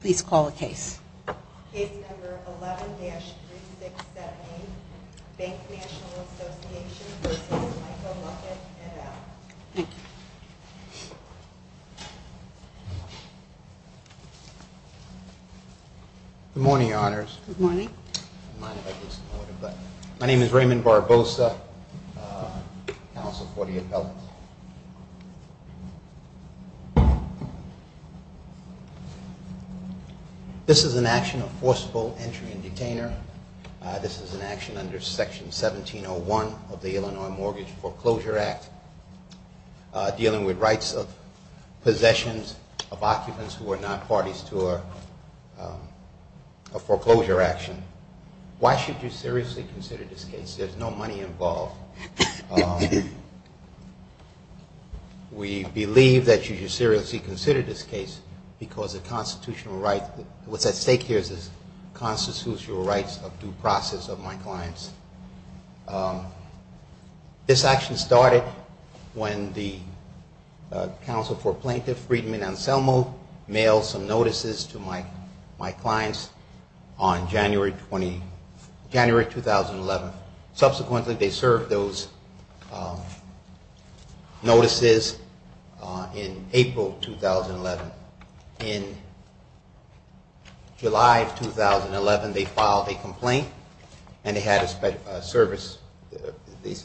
Please call the case. Case number 11-3678, Bank National Association v. Michael Luckett, NL. Thank you. Good morning, your honors. Good morning. My name is Raymond Barbosa, counsel for the appellants. This is an action of forcible entry and detainer. This is an action under section 1701 of the Illinois Mortgage Foreclosure Act, dealing with rights of possessions of occupants who are not parties to a foreclosure action. Why should you seriously consider this case? There's no money involved. We believe that you should seriously consider this case because the constitutional right, what's at stake here is the constitutional rights of due process of my clients. This action started when the counsel for plaintiff, Friedman Anselmo, mailed some notices to my clients on January 2011. Subsequently, they served those notices in April 2011. In July of 2011, they filed a complaint and they had a service,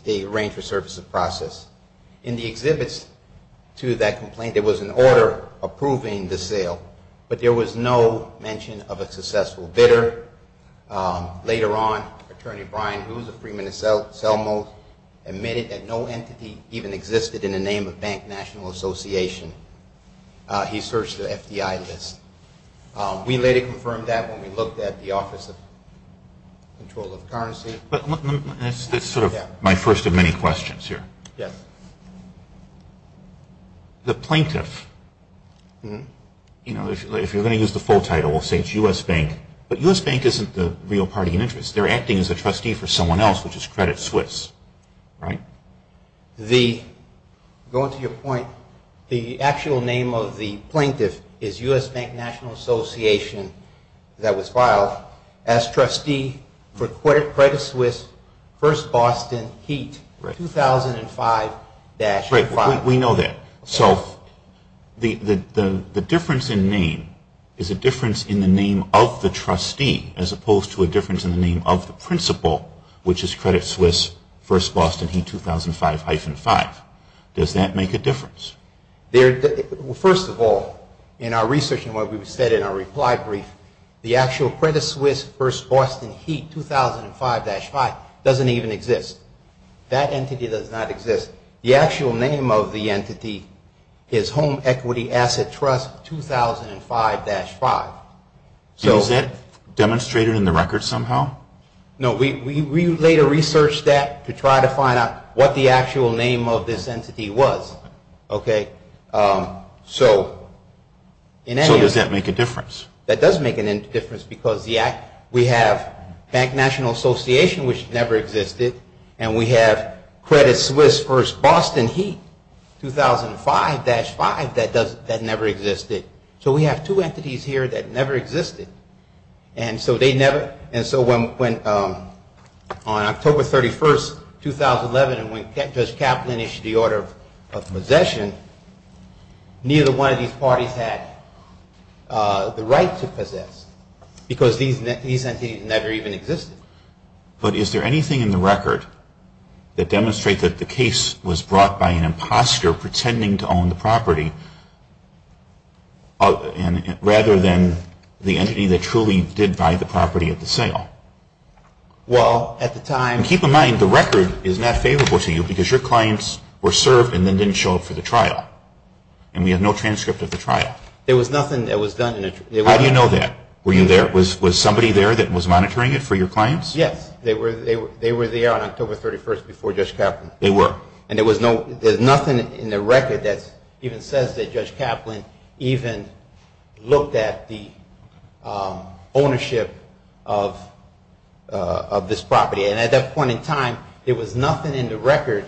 they arranged for service of process. In the exhibits to that complaint, there was an order approving the sale, but there was no mention of a successful bidder. Later on, Attorney Brian Hughes of Friedman Anselmo admitted that no entity even existed in the name of Bank National Association. He searched the FDI list. We later confirmed that when we looked at the Office of Control of Currency. That's sort of my first of many questions here. The plaintiff, if you're going to use the full title, we'll say it's U.S. Bank, but U.S. Bank isn't the real party in interest. They're acting as a trustee for someone else, which is Credit Suisse, right? Going to your point, the actual name of the plaintiff is U.S. Bank National Association that was filed as trustee for Credit Suisse First Boston Heat 2005-05. We know that. So the difference in name is a difference in the name of the trustee as opposed to a difference in the name of the principal, which is Credit Suisse First Boston Heat 2005-05. Does that make a difference? First of all, in our research and what we said in our reply brief, the actual Credit Suisse First Boston Heat 2005-05 doesn't even exist. That entity does not exist. The actual name of the entity is Home Equity Asset Trust 2005-05. Is that demonstrated in the record somehow? No. We later researched that to try to find out what the actual name of this entity was. So does that make a difference? That does make a difference because we have Bank National Association, which never existed, and we have Credit Suisse First Boston Heat 2005-05 that never existed. So we have two entities here that never existed. And so on October 31st, 2011, when Judge Kaplan issued the order of possession, neither one of these parties had the right to possess because these entities never even existed. But is there anything in the record that demonstrates that the case was brought by an imposter pretending to own the property, rather than the entity that truly did buy the property at the sale? Well, at the time... And keep in mind, the record is not favorable to you because your clients were served and then didn't show up for the trial. And we have no transcript of the trial. There was nothing that was done... How do you know that? Were you there? Was somebody there that was monitoring it for your clients? Yes. They were there on October 31st before Judge Kaplan. They were. And there's nothing in the record that even says that Judge Kaplan even looked at the ownership of this property. And at that point in time, there was nothing in the record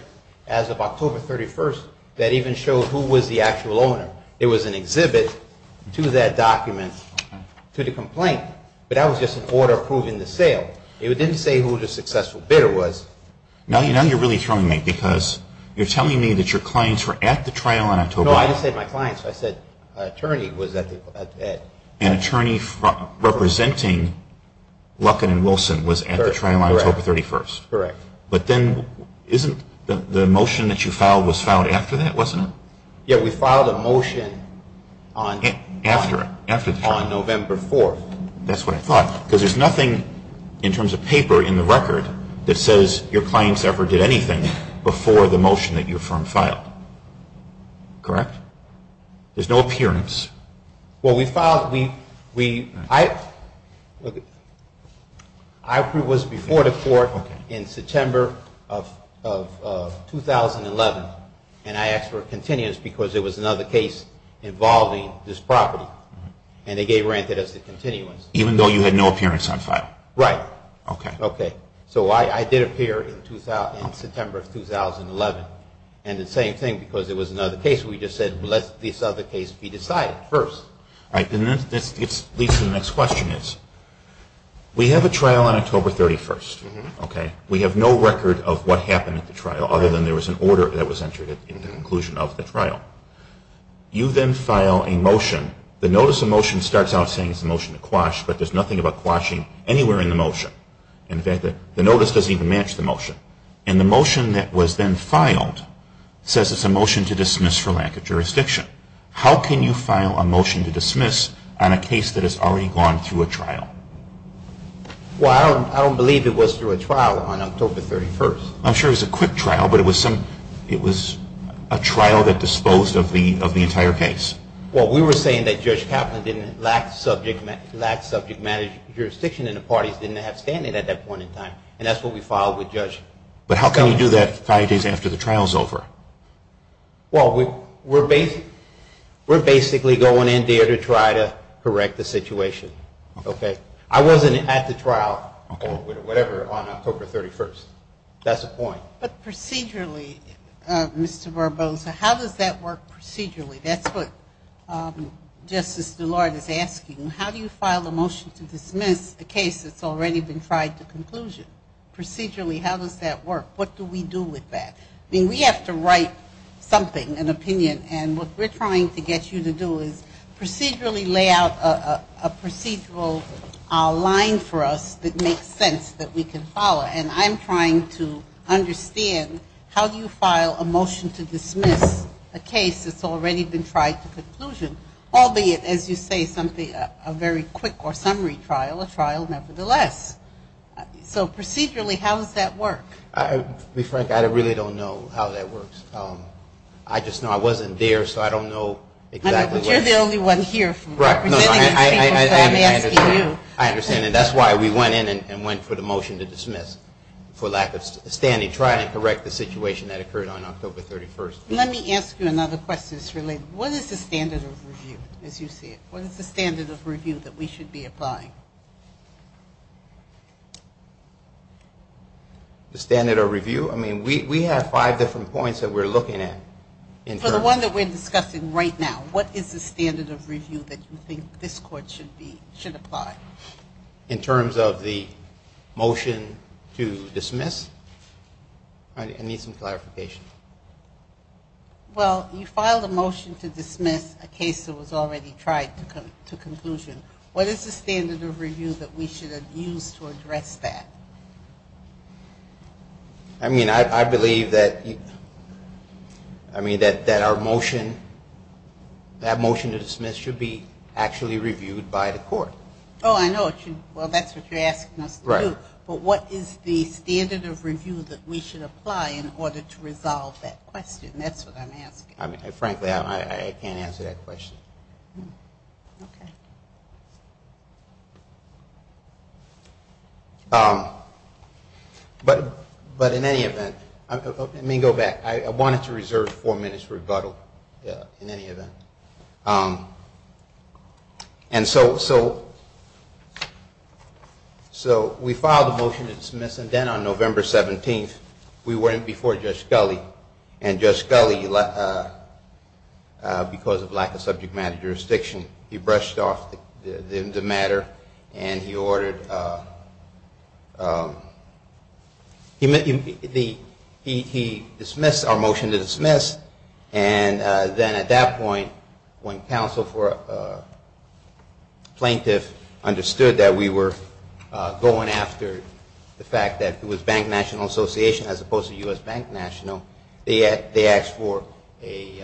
as of October 31st that even showed who was the actual owner. There was an exhibit to that document to the complaint, but that was just an order approving the sale. It didn't say who the successful bidder was. Now you're really throwing me because you're telling me that your clients were at the trial on October... No, I just said my clients. I said an attorney was at the... An attorney representing Luckin and Wilson was at the trial on October 31st. Correct. But then isn't the motion that you filed was filed after that, wasn't it? Yeah, we filed a motion on November 4th. That's what I thought, because there's nothing in terms of paper in the record that says your clients ever did anything before the motion that your firm filed. Correct? There's no appearance. Well, we filed... I was before the court in September of 2011, and I asked for a continuance because there was another case involving this property. And they gave granted us the continuance. Even though you had no appearance on file? Right. Okay. So I did appear in September of 2011. And it's the same thing because it was another case. We just said, well, let this other case be decided first. All right. This leads to the next question. We have a trial on October 31st. We have no record of what happened at the trial, other than there was an order that was entered in the conclusion of the trial. You then file a motion. The notice of motion starts out saying it's a motion to quash, but there's nothing about quashing anywhere in the motion. In fact, the notice doesn't even match the motion. And the motion that was then filed says it's a motion to dismiss for lack of jurisdiction. How can you file a motion to dismiss on a case that has already gone through a trial? Well, I don't believe it was through a trial on October 31st. I'm sure it was a quick trial, but it was a trial that disposed of the entire case. Well, we were saying that Judge Kaplan didn't lack subject matter jurisdiction and the parties didn't have standing at that point in time. And that's what we filed with Judge Kaplan. But how can you do that five days after the trial is over? Well, we're basically going in there to try to correct the situation. Okay. I wasn't at the trial or whatever on October 31st. That's the point. But procedurally, Mr. Barbosa, how does that work procedurally? That's what Justice DuLard is asking. How do you file a motion to dismiss a case that's already been tried to conclusion? Procedurally, how does that work? What do we do with that? I mean, we have to write something, an opinion, and what we're trying to get you to do is procedurally lay out a procedural line for us that makes sense that we can follow. And I'm trying to understand how you file a motion to dismiss a case that's already been tried to conclusion, albeit, as you say, a very quick or summary trial, a trial nevertheless. So procedurally, how does that work? To be frank, I really don't know how that works. I just know I wasn't there, so I don't know exactly what it is. But you're the only one here representing these people, so I'm asking you. I understand, and that's why we went in and went for the motion to dismiss for lack of standing, trying to correct the situation that occurred on October 31st. Let me ask you another question that's related. What is the standard of review, as you see it? What is the standard of review that we should be applying? The standard of review? I mean, we have five different points that we're looking at. For the one that we're discussing right now, what is the standard of review that you think this court should apply? In terms of the motion to dismiss? I need some clarification. Well, you filed a motion to dismiss a case that was already tried to conclusion. What is the standard of review that we should have used to address that? I mean, I believe that our motion, that motion to dismiss should be actually reviewed by the court. Oh, I know. Well, that's what you're asking us to do. Right. But what is the standard of review that we should apply in order to resolve that question? That's what I'm asking. Frankly, I can't answer that question. Okay. But in any event, let me go back. I wanted to reserve four minutes for rebuttal in any event. And so we filed a motion to dismiss, and then on November 17th, we went before Judge Scully, and Judge Scully, because of lack of subject matter jurisdiction, he brushed off the matter, and he ordered, he dismissed our motion to dismiss, and then at that point, when counsel for plaintiff understood that we were going after the fact that it was Bank National Association as opposed to U.S. Bank National, they asked for a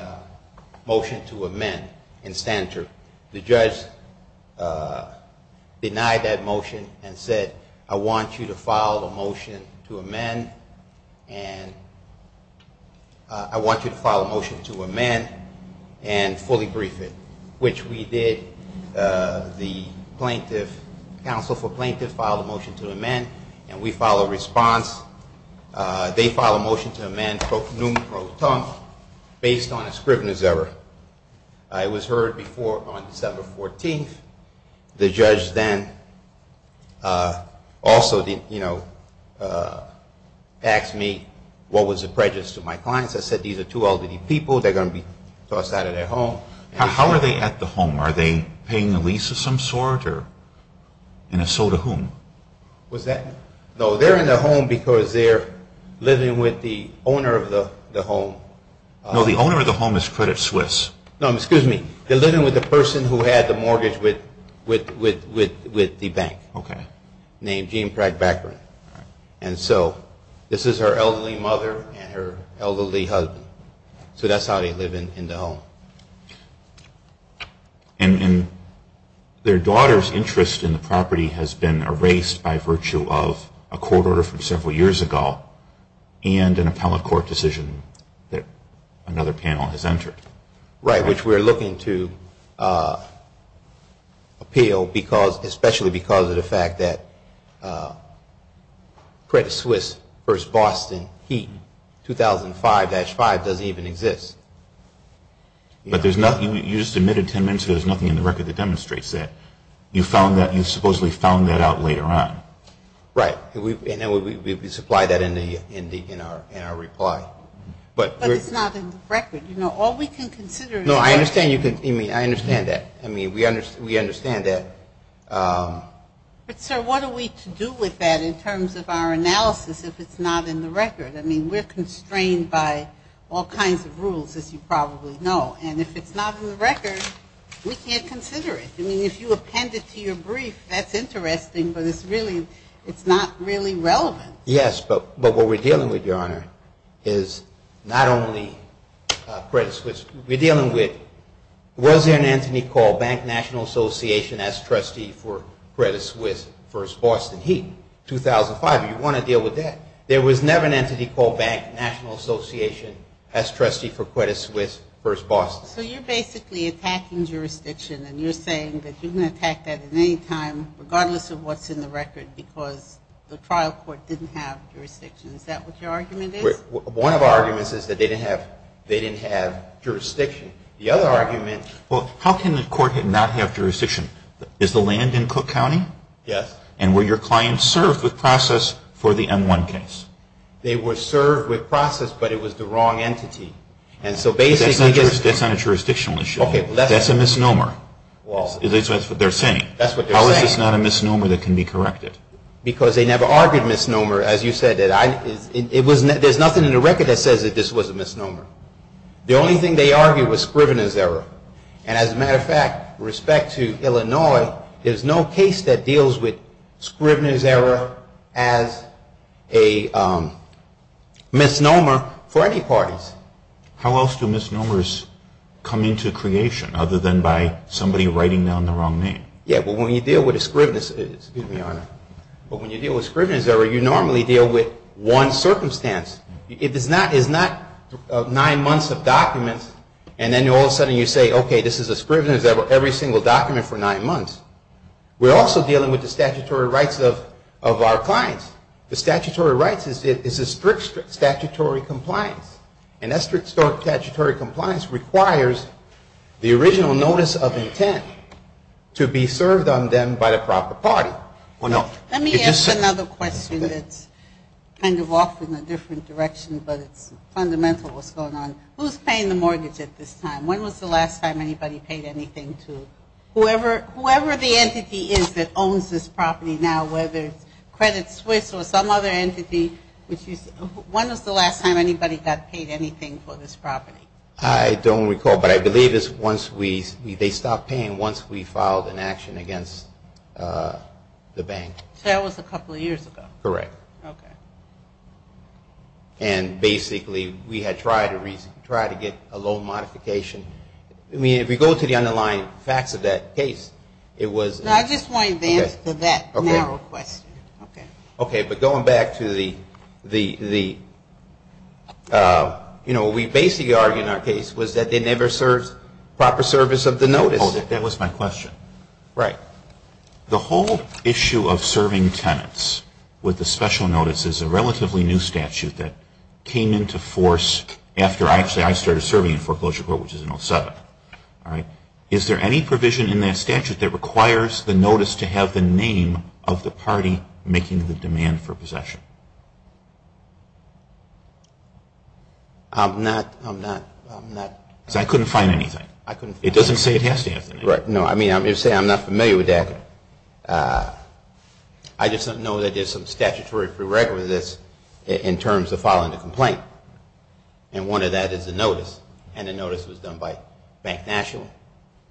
motion to amend in standard. The judge denied that motion and said, I want you to file a motion to amend, and I want you to file a motion to amend and fully brief it, which we did. The plaintiff, counsel for plaintiff filed a motion to amend, and we filed a response. They filed a motion to amend, spoke num pro temp, based on a scrivener's error. It was heard before on December 14th. The judge then also, you know, asked me what was the prejudice to my clients. I said, these are two elderly people. They're going to be tossed out of their home. How are they at the home? Are they paying a lease of some sort? And if so, to whom? No, they're in the home because they're living with the owner of the home. No, the owner of the home is Credit Suisse. No, excuse me. They're living with the person who had the mortgage with the bank. Okay. Named Jean Pratt Baccarin. All right. And so, this is her elderly mother and her elderly husband. So that's how they live in the home. And their daughter's interest in the property has been erased by virtue of a court order from several years ago and an appellate court decision that another panel has entered. Right, which we're looking to appeal, especially because of the fact that Credit Suisse v. Boston 2005-5 doesn't even exist. But there's nothing, you just admitted 10 minutes ago, there's nothing in the record that demonstrates that. You found that, you supposedly found that out later on. Right. And we supply that in our reply. But it's not in the record. You know, all we can consider is. No, I understand that. I mean, we understand that. But, sir, what are we to do with that in terms of our analysis if it's not in the record? I mean, we're constrained by all kinds of rules, as you probably know. And if it's not in the record, we can't consider it. I mean, if you append it to your brief, that's interesting, but it's really, it's not really relevant. Yes, but what we're dealing with, Your Honor, is not only Credit Suisse. We're dealing with, was there an entity called Bank National Association as trustee for Credit Suisse v. Boston? 2005. You want to deal with that. There was never an entity called Bank National Association as trustee for Credit Suisse v. Boston. So you're basically attacking jurisdiction, and you're saying that you can attack that at any time, regardless of what's in the record, because the trial court didn't have jurisdiction. Is that what your argument is? One of our arguments is that they didn't have jurisdiction. The other argument. Well, how can the court not have jurisdiction? Is the land in Cook County? Yes. And were your clients served with process for the M1 case? They were served with process, but it was the wrong entity. That's not a jurisdictional issue. That's a misnomer. That's what they're saying. That's what they're saying. How is this not a misnomer that can be corrected? Because they never argued misnomer. As you said, there's nothing in the record that says that this was a misnomer. The only thing they argued was Scrivener's error. And as a matter of fact, respect to Illinois, there's no case that deals with Scrivener's error as a misnomer for any parties. How else do misnomers come into creation other than by somebody writing down the wrong name? Yeah, but when you deal with a Scrivener's error, you normally deal with one circumstance. It is not nine months of documents, and then all of a sudden you say, okay, this is a Scrivener's error every single document for nine months. We're also dealing with the statutory rights of our clients. The statutory rights is a strict statutory compliance. And that strict statutory compliance requires the original notice of intent to be served on them by the proper party. Let me ask another question that's kind of off in a different direction, but it's fundamental what's going on. Who's paying the mortgage at this time? When was the last time anybody paid anything to whoever the entity is that owns this property now, whether it's Credit Suisse or some other entity? When was the last time anybody got paid anything for this property? I don't recall, but I believe they stopped paying once we filed an action against the bank. So that was a couple of years ago. Correct. Okay. And basically we had tried to get a loan modification. I mean, if we go to the underlying facts of that case, it was – I just want to advance to that narrow question. Okay. But going back to the – you know, we basically argued in our case was that they never served proper service of the notice. That was my question. Right. The whole issue of serving tenants with the special notice is a relatively new statute that came into force after actually I started serving in foreclosure court, which is in 07. All right. Is there any provision in that statute that requires the notice to have the name of the party making the demand for possession? I'm not – I'm not – I'm not – Because I couldn't find anything. I couldn't find anything. It doesn't say it has to have the name. Right. No, I mean, I'm going to say I'm not familiar with that. I just know that there's some statutory prerequisites in terms of filing a complaint. And one of that is a notice. And the notice was done by Bank National.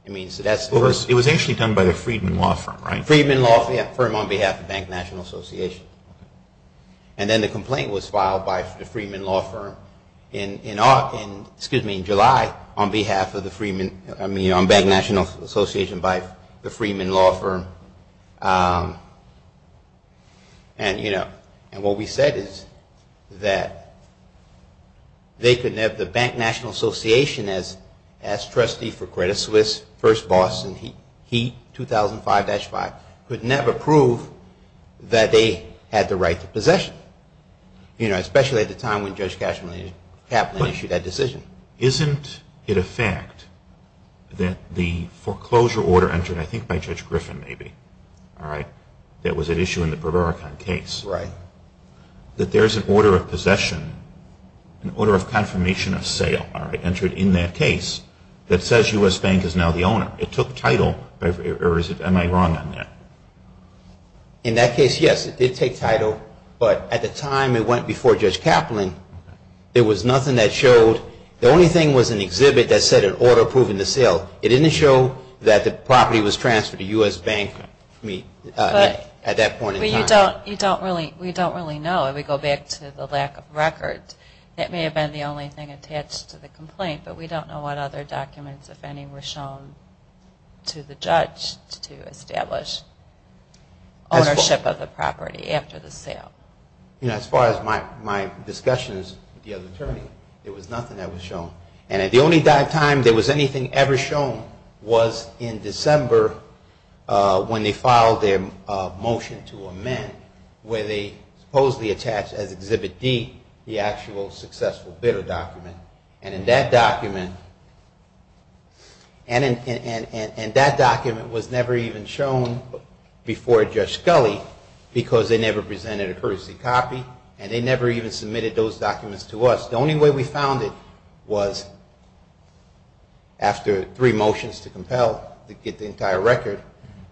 I mean, so that's the first – It was actually done by the Freedman Law Firm, right? Freedman Law Firm on behalf of Bank National Association. And then the complaint was filed by the Freedman Law Firm in – excuse me, in July on behalf of the Freedman – I mean, on Bank National Association by the Freedman Law Firm. And, you know, and what we said is that they could never – the Bank National Association, as trustee for Credit Suisse, first boss in HEAT, 2005-5, could never prove that they had the right to possession. You know, especially at the time when Judge Kaplan issued that decision. Isn't it a fact that the foreclosure order entered, I think by Judge Griffin maybe, all right, that was at issue in the Berberican case, that there's an order of possession, an order of confirmation of sale, all right, entered in that case that says U.S. Bank is now the owner. It took title, or am I wrong on that? In that case, yes, it did take title. But at the time it went before Judge Kaplan, there was nothing that showed – the only thing was an exhibit that said an order proving the sale. It didn't show that the property was transferred to U.S. Bank, I mean, at that point in time. But you don't really – we don't really know. If we go back to the lack of records, that may have been the only thing attached to the complaint. But we don't know what other documents, if any, were shown to the judge to establish ownership of the property after the sale. You know, as far as my discussions with the other attorneys, there was nothing that was shown. And at the only time there was anything ever shown was in December when they filed their motion to amend where they supposedly attached as Exhibit D the actual successful bidder document. And in that document – and that document was never even shown before Judge Scully because they never presented a courtesy copy, and they never even submitted those documents to us. The only way we found it was after three motions to compel to get the entire record.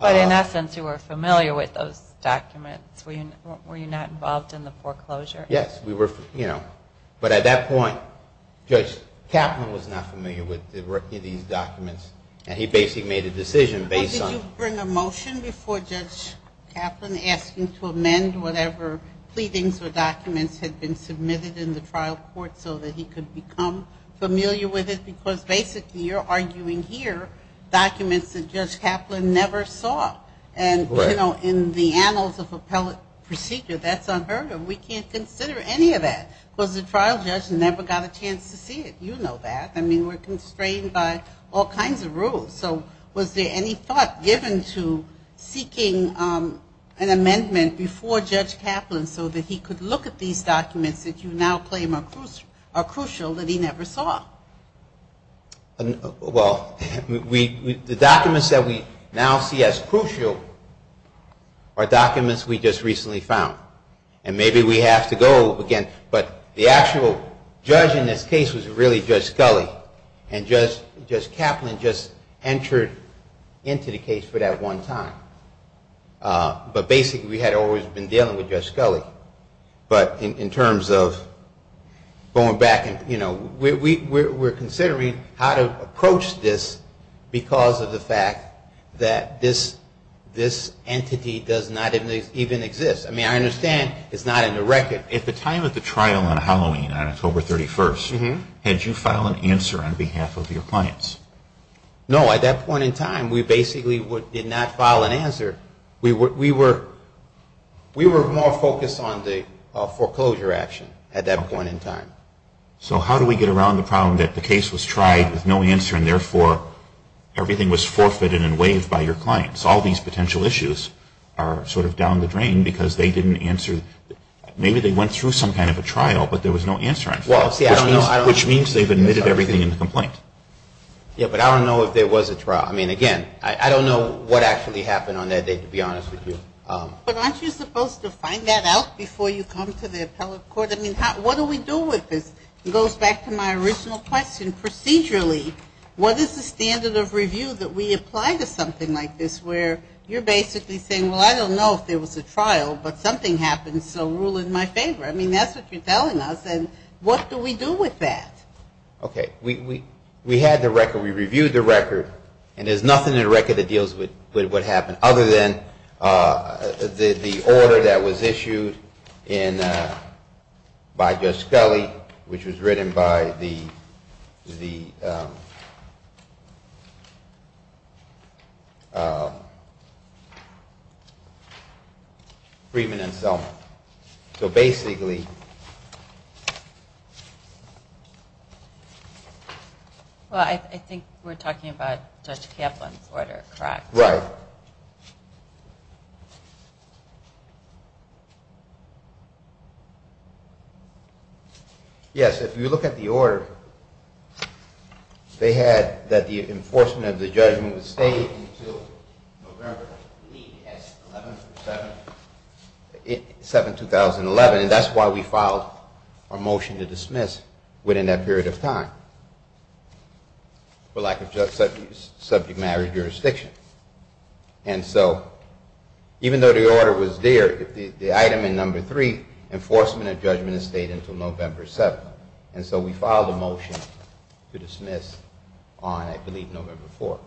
But in essence, you were familiar with those documents. Were you not involved in the foreclosure? Yes. We were, you know. But at that point, Judge Kaplan was not familiar with any of these documents, and he basically made a decision based on – Did you bring a motion before Judge Kaplan asking to amend whatever pleadings or documents had been submitted in the trial court so that he could become familiar with it? Because basically you're arguing here documents that Judge Kaplan never saw. And, you know, in the annals of appellate procedure, that's unheard of. We can't consider any of that because the trial judge never got a chance to see it. You know that. I mean, we're constrained by all kinds of rules. So was there any thought given to seeking an amendment before Judge Kaplan so that he could look at these documents that you now claim are crucial that he never saw? Well, the documents that we now see as crucial are documents we just recently found. And maybe we have to go again. But the actual judge in this case was really Judge Scully, and Judge Kaplan just entered into the case for that one time. But basically we had always been dealing with Judge Scully. But in terms of going back, you know, we're considering how to approach this because of the fact that this entity does not even exist. I mean, I understand it's not in the record. At the time of the trial on Halloween on October 31st, had you filed an answer on behalf of your clients? No. At that point in time, we basically did not file an answer. We were more focused on the foreclosure action at that point in time. So how do we get around the problem that the case was tried with no answer and therefore everything was forfeited and waived by your clients? All these potential issues are sort of down the drain because they didn't answer. Maybe they went through some kind of a trial, but there was no answer, which means they've admitted everything in the complaint. Yeah, but I don't know if there was a trial. I mean, again, I don't know what actually happened on that day, to be honest with you. But aren't you supposed to find that out before you come to the appellate court? I mean, what do we do with this? It goes back to my original question. Procedurally, what is the standard of review that we apply to something like this where you're basically saying, well, I don't know if there was a trial, but something happened, so rule in my favor. I mean, that's what you're telling us, and what do we do with that? Okay, we had the record. We reviewed the record, and there's nothing in the record that deals with what happened other than the order that was issued by Judge Scully, which was written by the freedman himself. So basically... Well, I think we're talking about Judge Kaplan's order, correct? Right. Yes, if you look at the order, they had that the enforcement of the judgment would stay until November 3, 2011, 7, 2011, and that's why we filed a motion to dismiss within that period of time for lack of subject matter jurisdiction. And so even though the order was there, the item in number three, enforcement of judgment, stayed until November 7. And so we filed a motion to dismiss on, I believe, November 4.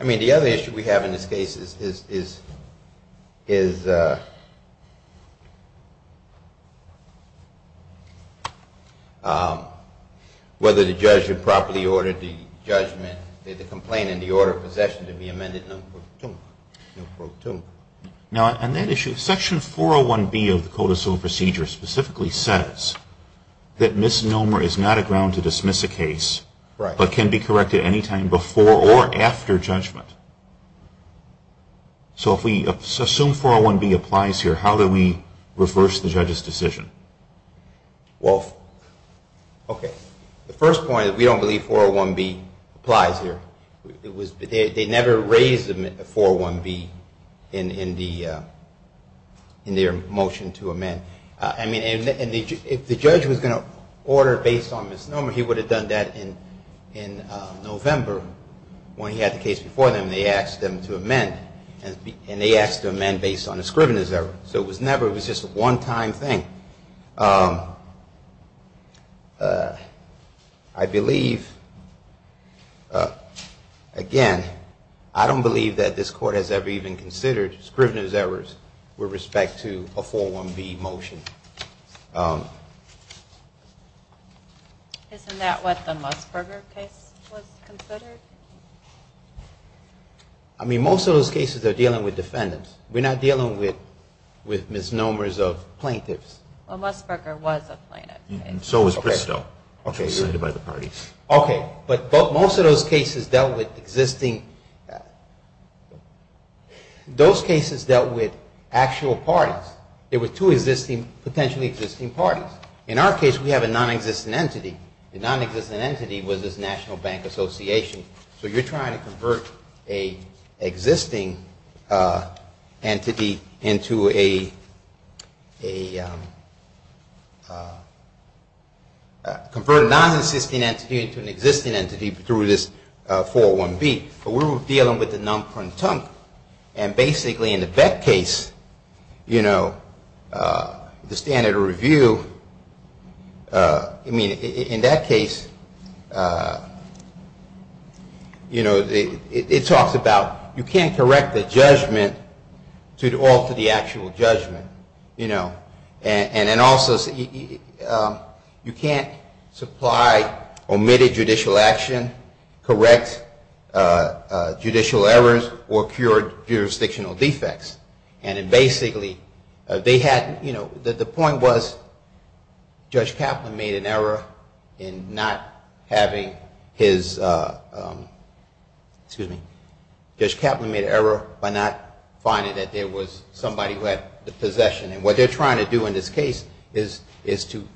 I mean, the other issue we have in this case is whether the judge had properly ordered the judgment, the complaint, and the order of possession to be amended November 2. Now, on that issue, Section 401B of the Code of Civil Procedure specifically says that misnomer is not a ground to dismiss a case, but can be corrected any time before or after judgment. So if we assume 401B applies here, how do we reverse the judge's decision? Well, okay. The first point is we don't believe 401B applies here. They never raised 401B in their motion to amend. I mean, if the judge was going to order based on misnomer, he would have done that in November when he had the case before them. They asked them to amend, and they asked to amend based on a scrivener's error. So it was never just a one-time thing. I believe, again, I don't believe that this Court has ever even considered scrivener's errors with respect to a 401B motion. Isn't that what the Musburger case was considered? I mean, most of those cases are dealing with defendants. We're not dealing with misnomers of plaintiffs. Well, Musburger was a plaintiff. So was Bristow, which was cited by the parties. Okay. But most of those cases dealt with existing – those cases dealt with actual parties. There were two potentially existing parties. In our case, we have a nonexistent entity. The nonexistent entity was this National Bank Association. So you're trying to convert an existing entity into a – convert a nonexistent entity into an existing entity through this 401B. But we were dealing with the non-punctunct, and basically in the Beck case, you know, the standard of review, I mean, in that case, you know, it talks about you can't correct the judgment to alter the actual judgment, you know. And also, you can't supply omitted judicial action, correct judicial errors, or cure jurisdictional defects. And basically, they had – you know, the point was Judge Kaplan made an error in not having his – excuse me – Judge Kaplan made an error by not finding that there was somebody who had the possession. And what they're trying to do in this case is to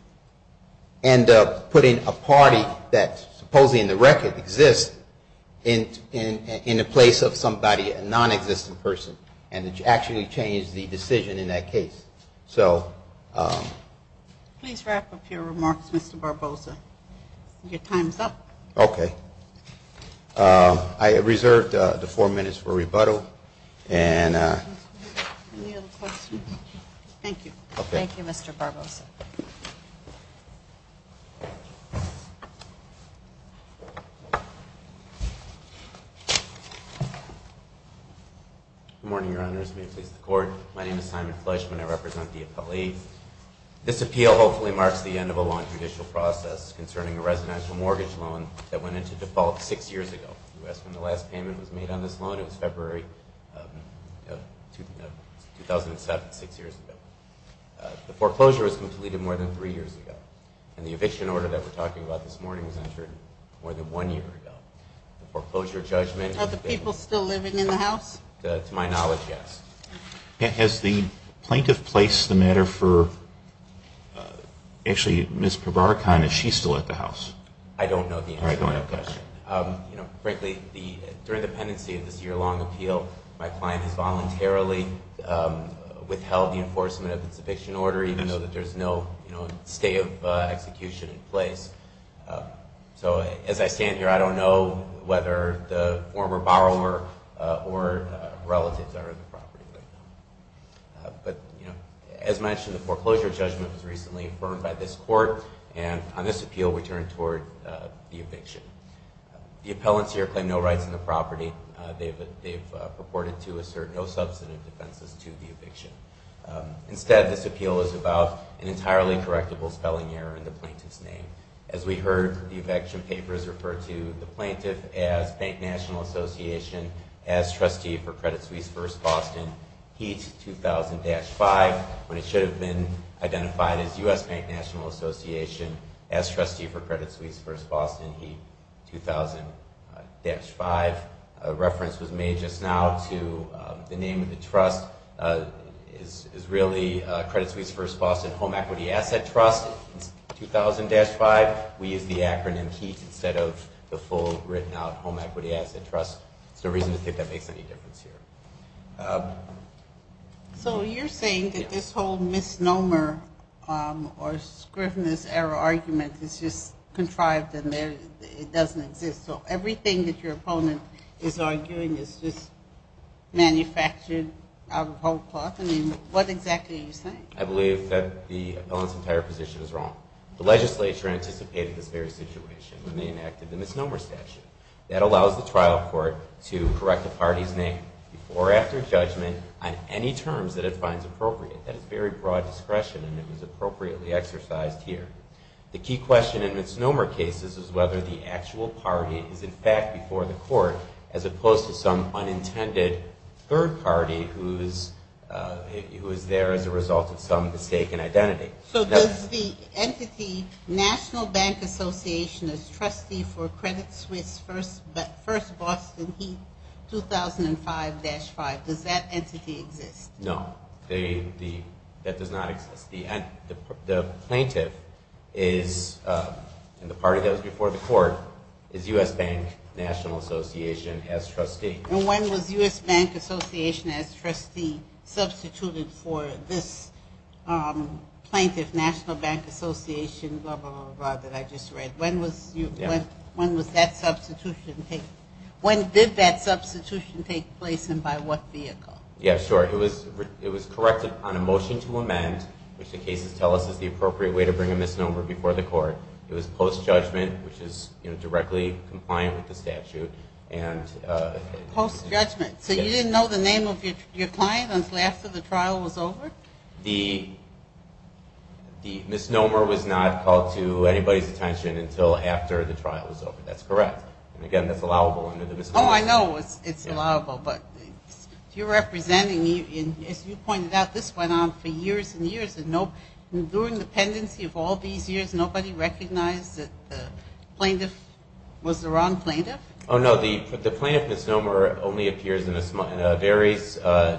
end up putting a party that supposedly in the record exists in the place of somebody, a nonexistent person, and to actually change the decision in that case. So – Please wrap up your remarks, Mr. Barbosa. Your time's up. Okay. I reserved the four minutes for rebuttal. And – Any other questions? Thank you. Okay. Thank you, Mr. Barbosa. Thank you. Good morning, Your Honors. May it please the Court. My name is Simon Fleischman. I represent the appellee. This appeal hopefully marks the end of a long judicial process concerning a residential mortgage loan that went into default six years ago. That's when the last payment was made on this loan. It was February 2007, six years ago. The foreclosure was completed more than three years ago. And the eviction order that we're talking about this morning was entered more than one year ago. The foreclosure judgment – Are the people still living in the house? To my knowledge, yes. Has the plaintiff placed the matter for – actually, Ms. Probarcon, is she still at the house? I don't know the answer to that question. Frankly, during the pendency of this year-long appeal, my client has voluntarily withheld the enforcement of its eviction order, even though there's no stay of execution in place. So as I stand here, I don't know whether the former borrower or relatives are in the property right now. But, you know, as mentioned, the foreclosure judgment was recently affirmed by this Court, and on this appeal we turn toward the eviction. The appellants here claim no rights in the property. They've purported to assert no substantive defenses to the eviction. Instead, this appeal is about an entirely correctable spelling error in the plaintiff's name. As we heard, the eviction papers referred to the plaintiff as Bank National Association, as trustee for Credit Suisse First Boston HEAT 2000-5, when it should have been identified as U.S. Bank National Association, as trustee for Credit Suisse First Boston HEAT 2000-5. A reference was made just now to the name of the trust is really Credit Suisse First Boston Home Equity Asset Trust HEAT 2000-5. We use the acronym HEAT instead of the full written-out Home Equity Asset Trust. There's no reason to think that makes any difference here. So you're saying that this whole misnomer or scrivener's error argument is just contrived and it doesn't exist. So everything that your opponent is arguing is just manufactured out of old cloth? I mean, what exactly are you saying? I believe that the appellant's entire position is wrong. The legislature anticipated this very situation when they enacted the misnomer statute. That allows the trial court to correct the party's name before or after judgment on any terms that it finds appropriate. That is very broad discretion, and it was appropriately exercised here. The key question in misnomer cases is whether the actual party is in fact before the court as opposed to some unintended third party who is there as a result of some mistaken identity. So does the entity National Bank Association is trustee for Credit Suisse First Boston HEAT 2005-5, does that entity exist? No, that does not exist. The plaintiff is in the party that was before the court is U.S. Bank National Association as trustee. And when was U.S. Bank Association as trustee substituted for this plaintiff, National Bank Association, blah, blah, blah, blah, that I just read? When did that substitution take place and by what vehicle? Yeah, sure. It was corrected on a motion to amend, which the cases tell us is the appropriate way to bring a misnomer before the court. It was post-judgment, which is directly compliant with the statute. Post-judgment? So you didn't know the name of your client until after the trial was over? The misnomer was not called to anybody's attention until after the trial was over. That's correct. And, again, that's allowable under the misnomer statute. Oh, I know it's allowable, but you're representing, as you pointed out, this went on for years and years, and during the pendency of all these years, nobody recognized that the plaintiff was the wrong plaintiff? Oh, no, the plaintiff misnomer only appears in a very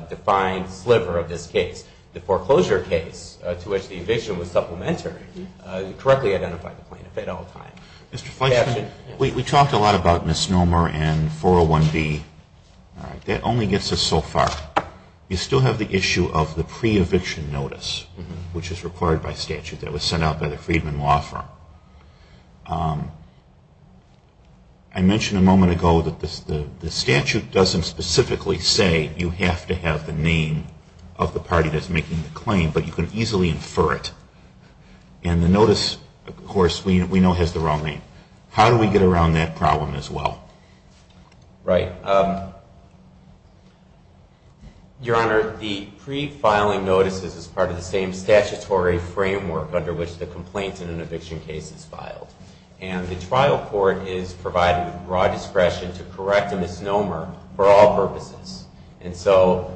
defined sliver of this case. The foreclosure case to which the eviction was supplementary correctly identified the plaintiff at all times. Mr. Fleischman? We talked a lot about misnomer and 401B. That only gets us so far. You still have the issue of the pre-eviction notice, which is required by statute. That was sent out by the Friedman Law Firm. I mentioned a moment ago that the statute doesn't specifically say you have to have the name of the party that's making the claim, but you can easily infer it. And the notice, of course, we know has the wrong name. How do we get around that problem as well? Right. Your Honor, the pre-filing notices is part of the same statutory framework under which the complaint in an eviction case is filed. And the trial court is provided with broad discretion to correct a misnomer for all purposes. And so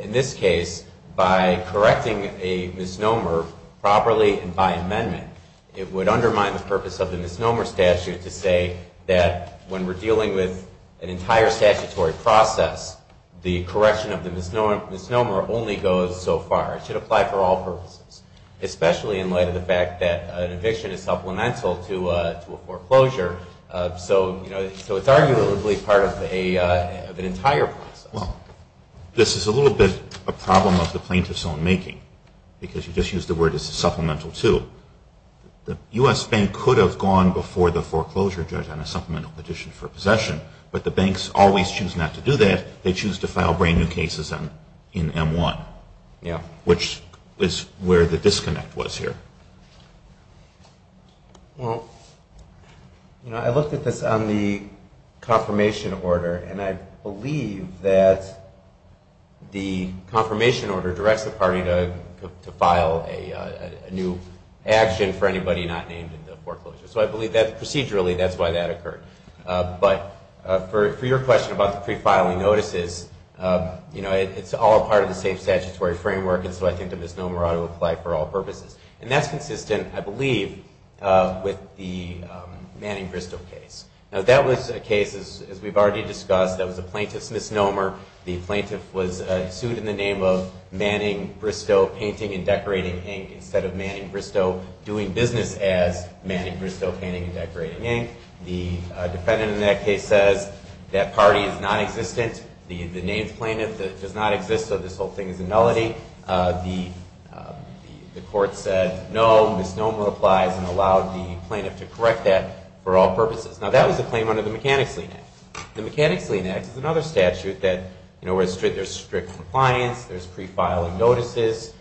in this case, by correcting a misnomer properly and by amendment, it would undermine the purpose of the misnomer statute to say that when we're dealing with an entire statutory process, the correction of the misnomer only goes so far. It should apply for all purposes, especially in light of the fact that an eviction is supplemental to a foreclosure. So it's arguably part of an entire process. Well, this is a little bit a problem of the plaintiff's own making, because you just used the word supplemental to. The U.S. Bank could have gone before the foreclosure judge on a supplemental petition for possession, but the banks always choose not to do that. They choose to file brand new cases in M1, which is where the disconnect was here. Well, you know, I looked at this on the confirmation order, and I believe that the confirmation order directs the party to file a new action for anybody not named in the foreclosure. So I believe that procedurally, that's why that occurred. But for your question about the prefiling notices, you know, it's all part of the same statutory framework, and so I think the misnomer ought to apply for all purposes. And that's consistent, I believe, with the Manning-Bristow case. Now, that was a case, as we've already discussed, that was a plaintiff's misnomer. The plaintiff was sued in the name of Manning-Bristow Painting and Decorating Inc. instead of Manning-Bristow Doing Business as Manning-Bristow Painting and Decorating Inc. The defendant in that case says that party is nonexistent. The named plaintiff does not exist, so this whole thing is a nullity. The court said no, misnomer applies, and allowed the plaintiff to correct that for all purposes. Now, that was a claim under the Mechanics' Lien Act. The Mechanics' Lien Act is another statute that, you know, where there's strict compliance, there's prefiling notices,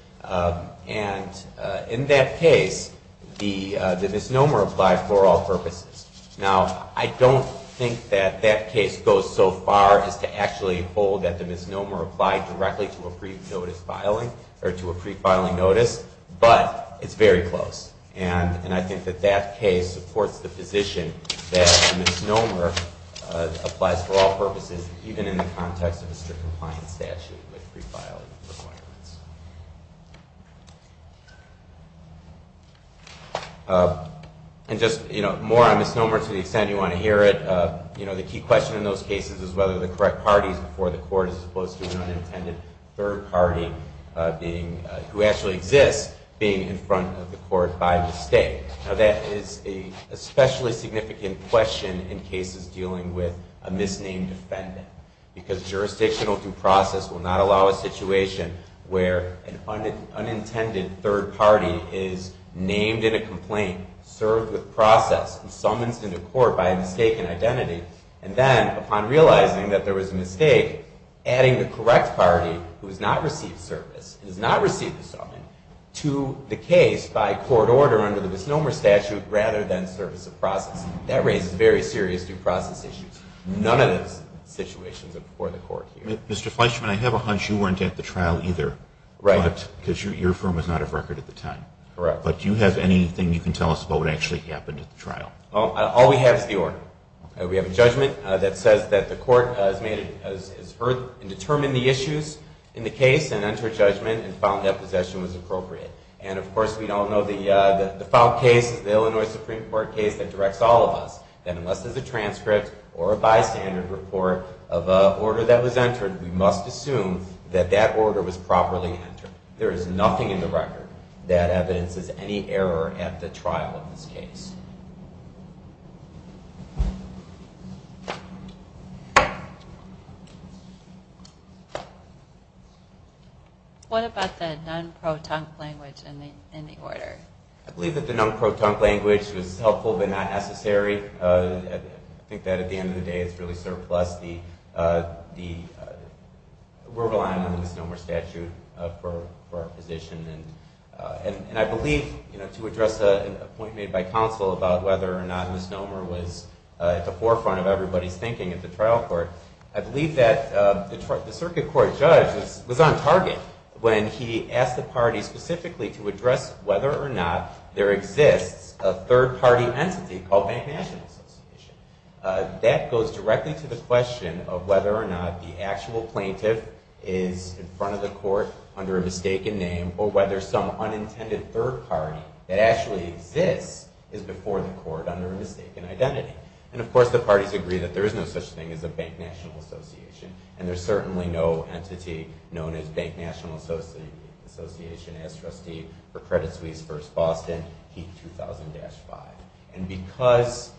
and in that case, the misnomer applied for all purposes. Now, I don't think that that case goes so far as to actually hold that the misnomer applied directly to a prefiling notice, but it's very close, and I think that that case supports the position that the misnomer applies for all purposes, even in the context of a strict compliance statute with prefiling requirements. And just, you know, more on misnomer to the extent you want to hear it. You know, the key question in those cases is whether the correct party is before the court as opposed to an unintended third party being, who actually exists, being in front of the court by mistake. Now, that is an especially significant question in cases dealing with a misnamed defendant because jurisdictional due process will not allow a situation where an unintended third party is named in a complaint, served with process, and summoned into court by a mistaken identity, and then, upon realizing that there was a mistake, adding the correct party, who has not received service and has not received the summons, to the case by court order under the misnomer statute rather than service of process. That raises very serious due process issues. None of those situations are before the court here. Mr. Fleischman, I have a hunch you weren't at the trial either. Right. Because your firm was not of record at the time. Correct. But do you have anything you can tell us about what actually happened at the trial? Well, all we have is the order. We have a judgment that says that the court has heard and determined the issues in the case and entered judgment and found that possession was appropriate. And, of course, we all know the default case is the Illinois Supreme Court case that directs all of us that unless there's a transcript or a bystander report of an order that was entered, we must assume that that order was properly entered. There is nothing in the record that evidences any error at the trial of this case. What about the non-protunct language in the order? I believe that the non-protunct language was helpful but not necessary. I think that at the end of the day it's really surplus. We're relying on the misnomer statute for our position. And I believe, you know, to address a point made by counsel about whether or not misnomer was at the forefront of everybody's thinking at the trial court, I believe that the circuit court judge was on target when he asked the party specifically to address whether or not there exists a third-party entity called Bank National Association. That goes directly to the question of whether or not the actual plaintiff is in front of the court under a mistaken name or whether some unintended third party that actually exists is before the court under a mistaken identity. And, of course, the parties agree that there is no such thing as a Bank National Association and there's certainly no entity known as Bank National Association as trustee for Credit Suisse v. Boston, HEAP 2000-5. And because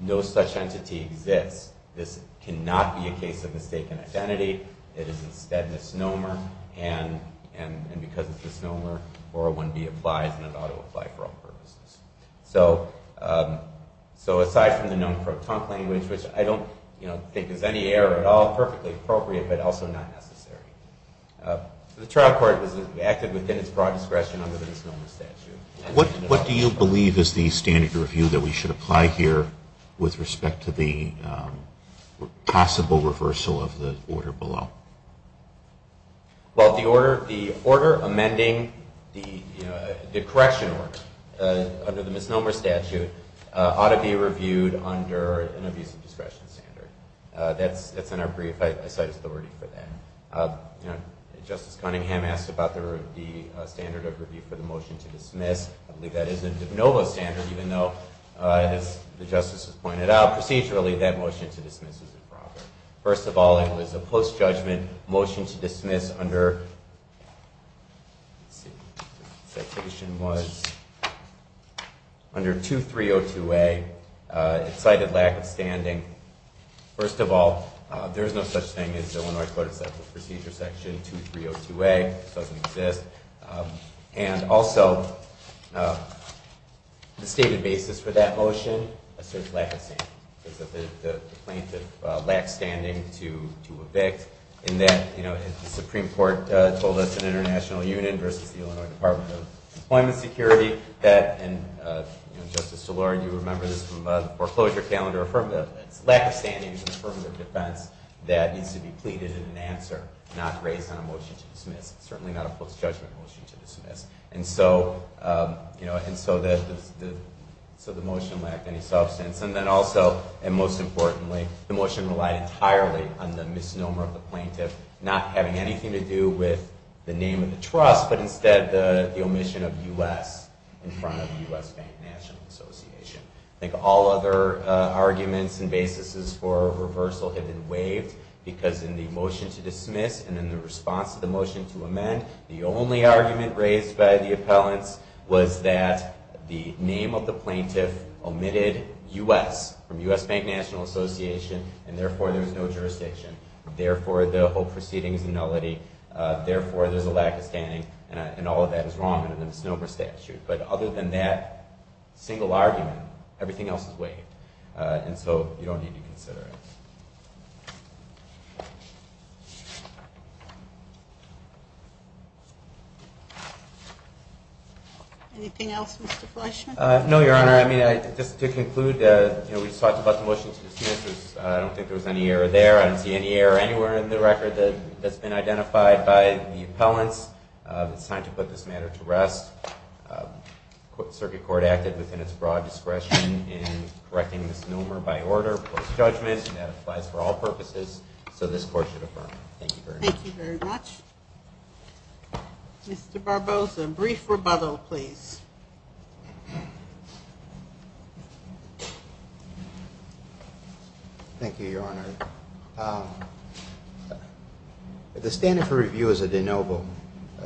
no such entity exists, this cannot be a case of mistaken identity. It is instead misnomer. And because it's misnomer, 401B applies and it ought to apply for all purposes. So aside from the known for a tongue language, which I don't think is any error at all, perfectly appropriate but also not necessary. The trial court acted within its broad discretion under the misnomer statute. What do you believe is the standard review that we should apply here with respect to the possible reversal of the order below? Well, the order amending the correction order under the misnomer statute ought to be reviewed under an abuse of discretion standard. That's in our brief. I cite authority for that. Justice Cunningham asked about the standard of review for the motion to dismiss. I believe that is a de novo standard even though, as the justice has pointed out, procedurally that motion to dismiss is improper. First of all, it was a post-judgment motion to dismiss under 2302A. It cited lack of standing. First of all, there is no such thing as the Illinois Code of Procedure Section 2302A. It doesn't exist. And also, the stated basis for that motion asserts lack of standing. The plaintiff lacks standing to evict in that the Supreme Court told us in International Union versus the Illinois Department of Employment Security that, and Justice DeLore, you remember this from the foreclosure calendar, it's lack of standing for affirmative defense that needs to be pleaded in an answer, not raised on a motion to dismiss. It's certainly not a post-judgment motion to dismiss. And so the motion lacked any substance. And then also, and most importantly, the motion relied entirely on the misnomer of the plaintiff not having anything to do with the name of the trust, but instead the omission of U.S. in front of the U.S. Bank National Association. I think all other arguments and basis for reversal have been waived because in the motion to dismiss and in the response to the motion to amend, the only argument raised by the appellants was that the name of the plaintiff omitted U.S. from U.S. Bank National Association, and therefore there's no jurisdiction. Therefore, the whole proceeding is a nullity. Therefore, there's a lack of standing, and all of that is wrong under the misnomer statute. But other than that single argument, everything else is waived. And so you don't need to consider it. Anything else, Mr. Fleischman? No, Your Honor. I mean, just to conclude, we talked about the motion to dismiss. I don't think there was any error there. I don't see any error anywhere in the record that's been identified by the appellants. It's time to put this matter to rest. Circuit Court acted within its broad discretion in correcting misnomer by order, post-judgment, and that applies for all purposes. So this Court should affirm. Thank you very much. Thank you very much. Mr. Barbosa, brief rebuttal, please. Thank you, Your Honor. The standard for review is a de novo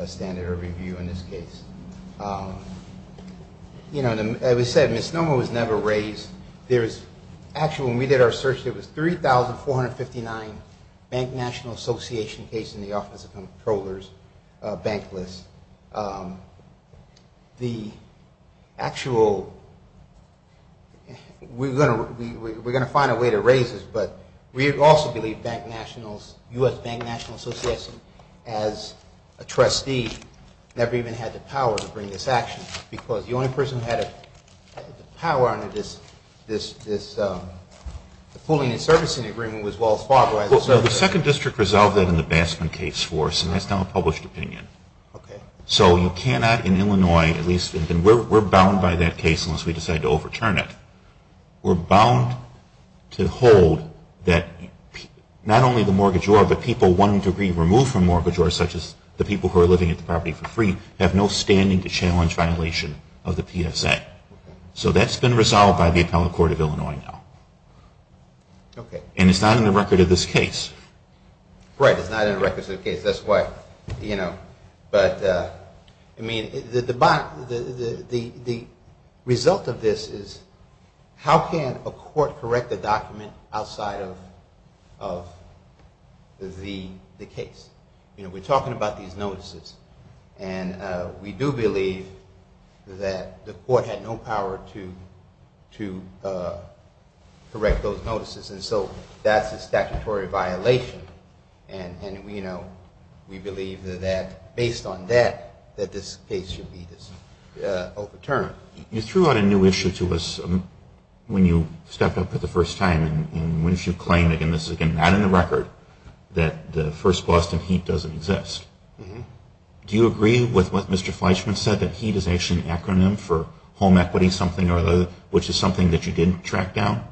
standard of review in this case. You know, as we said, misnomer was never raised. Actually, when we did our search, it was 3,459 bank national association cases in the Office of Comptroller's bank list. The actual we're going to find a way to raise this, but we also believe bank nationals, U.S. Bank National Association, as a trustee never even had the power to bring this action because the only person who had the power under this pooling and servicing agreement was Wells Fargo. Well, the Second District resolved that in the Baskin case for us, and that's now a published opinion. Okay. So you cannot, in Illinois at least, and we're bound by that case unless we decide to overturn it. We're bound to hold that not only the mortgagor, but people wanting to be removed from mortgagor, such as the people who are living at the property for free, have no standing to challenge violation of the PFZ. So that's been resolved by the Appellate Court of Illinois now. Okay. And it's not in the record of this case. Right, it's not in the records of the case. That's why, you know, but, I mean, the result of this is how can a court correct a document outside of the case? You know, we're talking about these notices, and we do believe that the court had no power to correct those notices, and so that's a statutory violation, and, you know, we believe that based on that, that this case should be overturned. You threw out a new issue to us when you stepped up for the first time, and when you claim, again, this is, again, not in the record, that the first Boston HEAT doesn't exist. Do you agree with what Mr. Fleischman said, that HEAT is actually an acronym for home equity something or other, which is something that you didn't track down?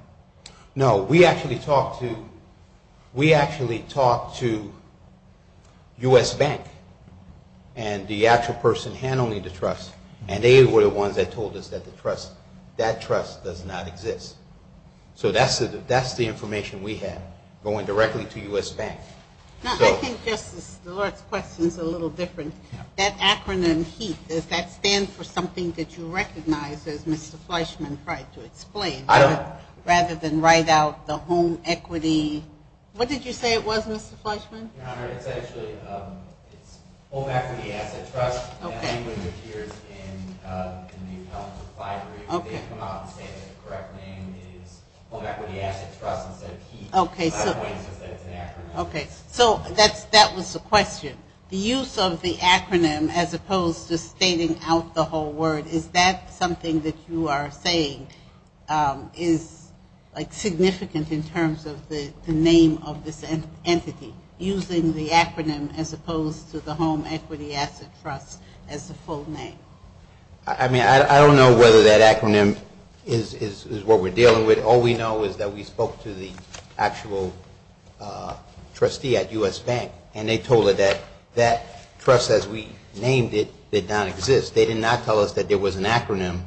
No. We actually talked to U.S. Bank, and the actual person handling the trust, and they were the ones that told us that the trust, that trust does not exist. So that's the information we have, going directly to U.S. Bank. I think Justice, the Lord's question is a little different. That acronym HEAT, does that stand for something that you recognize, as Mr. Fleischman tried to explain? I don't. Rather than write out the home equity, what did you say it was, Mr. Fleischman? Okay, so that was the question. The use of the acronym, as opposed to stating out the whole word, is that something that you are saying is, like, significant in terms of the name of this entity? I mean, I don't know whether that acronym is what we're dealing with. All we know is that we spoke to the actual trustee at U.S. Bank, and they told her that that trust, as we named it, did not exist. They did not tell us that there was an acronym,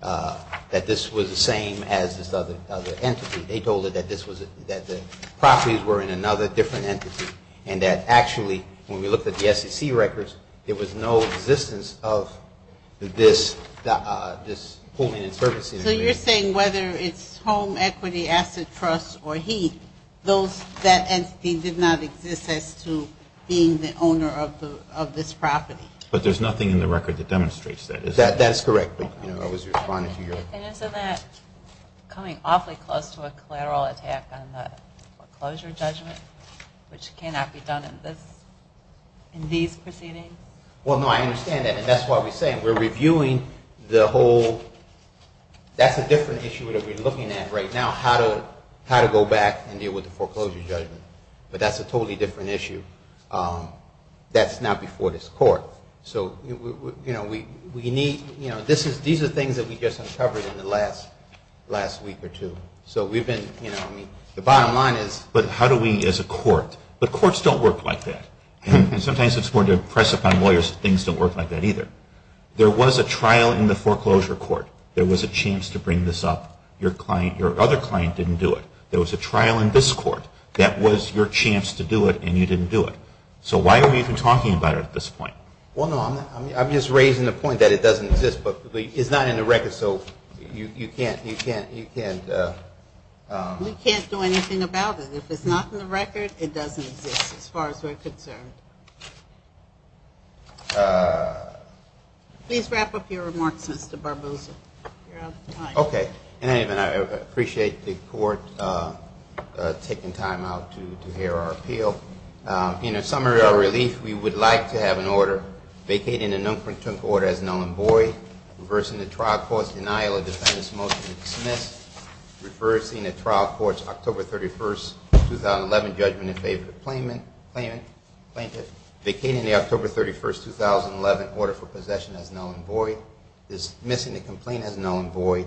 that this was the same as this other entity. They told her that this was, that the properties were in another different entity. And that actually, when we looked at the SEC records, there was no existence of this holding and servicing. So you're saying whether it's home equity, asset trust, or HEAT, that entity did not exist as to being the owner of this property? But there's nothing in the record that demonstrates that, is there? That's correct. And isn't that coming awfully close to a collateral attack on the foreclosure judgment, which cannot be done in these proceedings? Well, no, I understand that, and that's why we're saying we're reviewing the whole, that's a different issue that we're looking at right now, how to go back and deal with the foreclosure judgment. But that's a totally different issue. That's not before this Court. So, you know, we need, you know, these are things that we just uncovered in the last week or two. So we've been, you know, I mean, the bottom line is. But how do we, as a court, but courts don't work like that. And sometimes it's more to impress upon lawyers that things don't work like that either. There was a trial in the foreclosure court. There was a chance to bring this up. Your other client didn't do it. There was a trial in this court. That was your chance to do it, and you didn't do it. So why are we even talking about it at this point? Well, no, I'm just raising the point that it doesn't exist. But it's not in the record, so you can't, you can't, you can't. We can't do anything about it. If it's not in the record, it doesn't exist as far as we're concerned. Please wrap up your remarks, Mr. Barbosa. Okay. Anyway, I appreciate the court taking time out to hear our appeal. In a summary of our relief, we would like to have an order vacating the Nunquinton court as null and void, reversing the trial court's denial of defendant's motion to dismiss, reversing the trial court's October 31, 2011, judgment in favor of the plaintiff, vacating the October 31, 2011, order for possession as null and void, dismissing the complaint as null and void,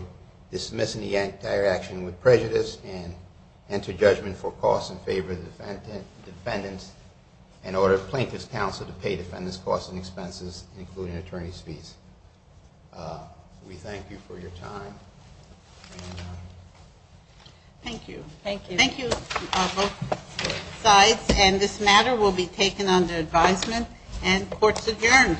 dismissing the entire action with prejudice, and enter judgment for costs in favor of the defendants, and order plaintiff's counsel to pay defendant's costs and expenses, including attorney's fees. We thank you for your time. Thank you. Thank you. Thank you, both sides. And this matter will be taken under advisement, and court's adjourned.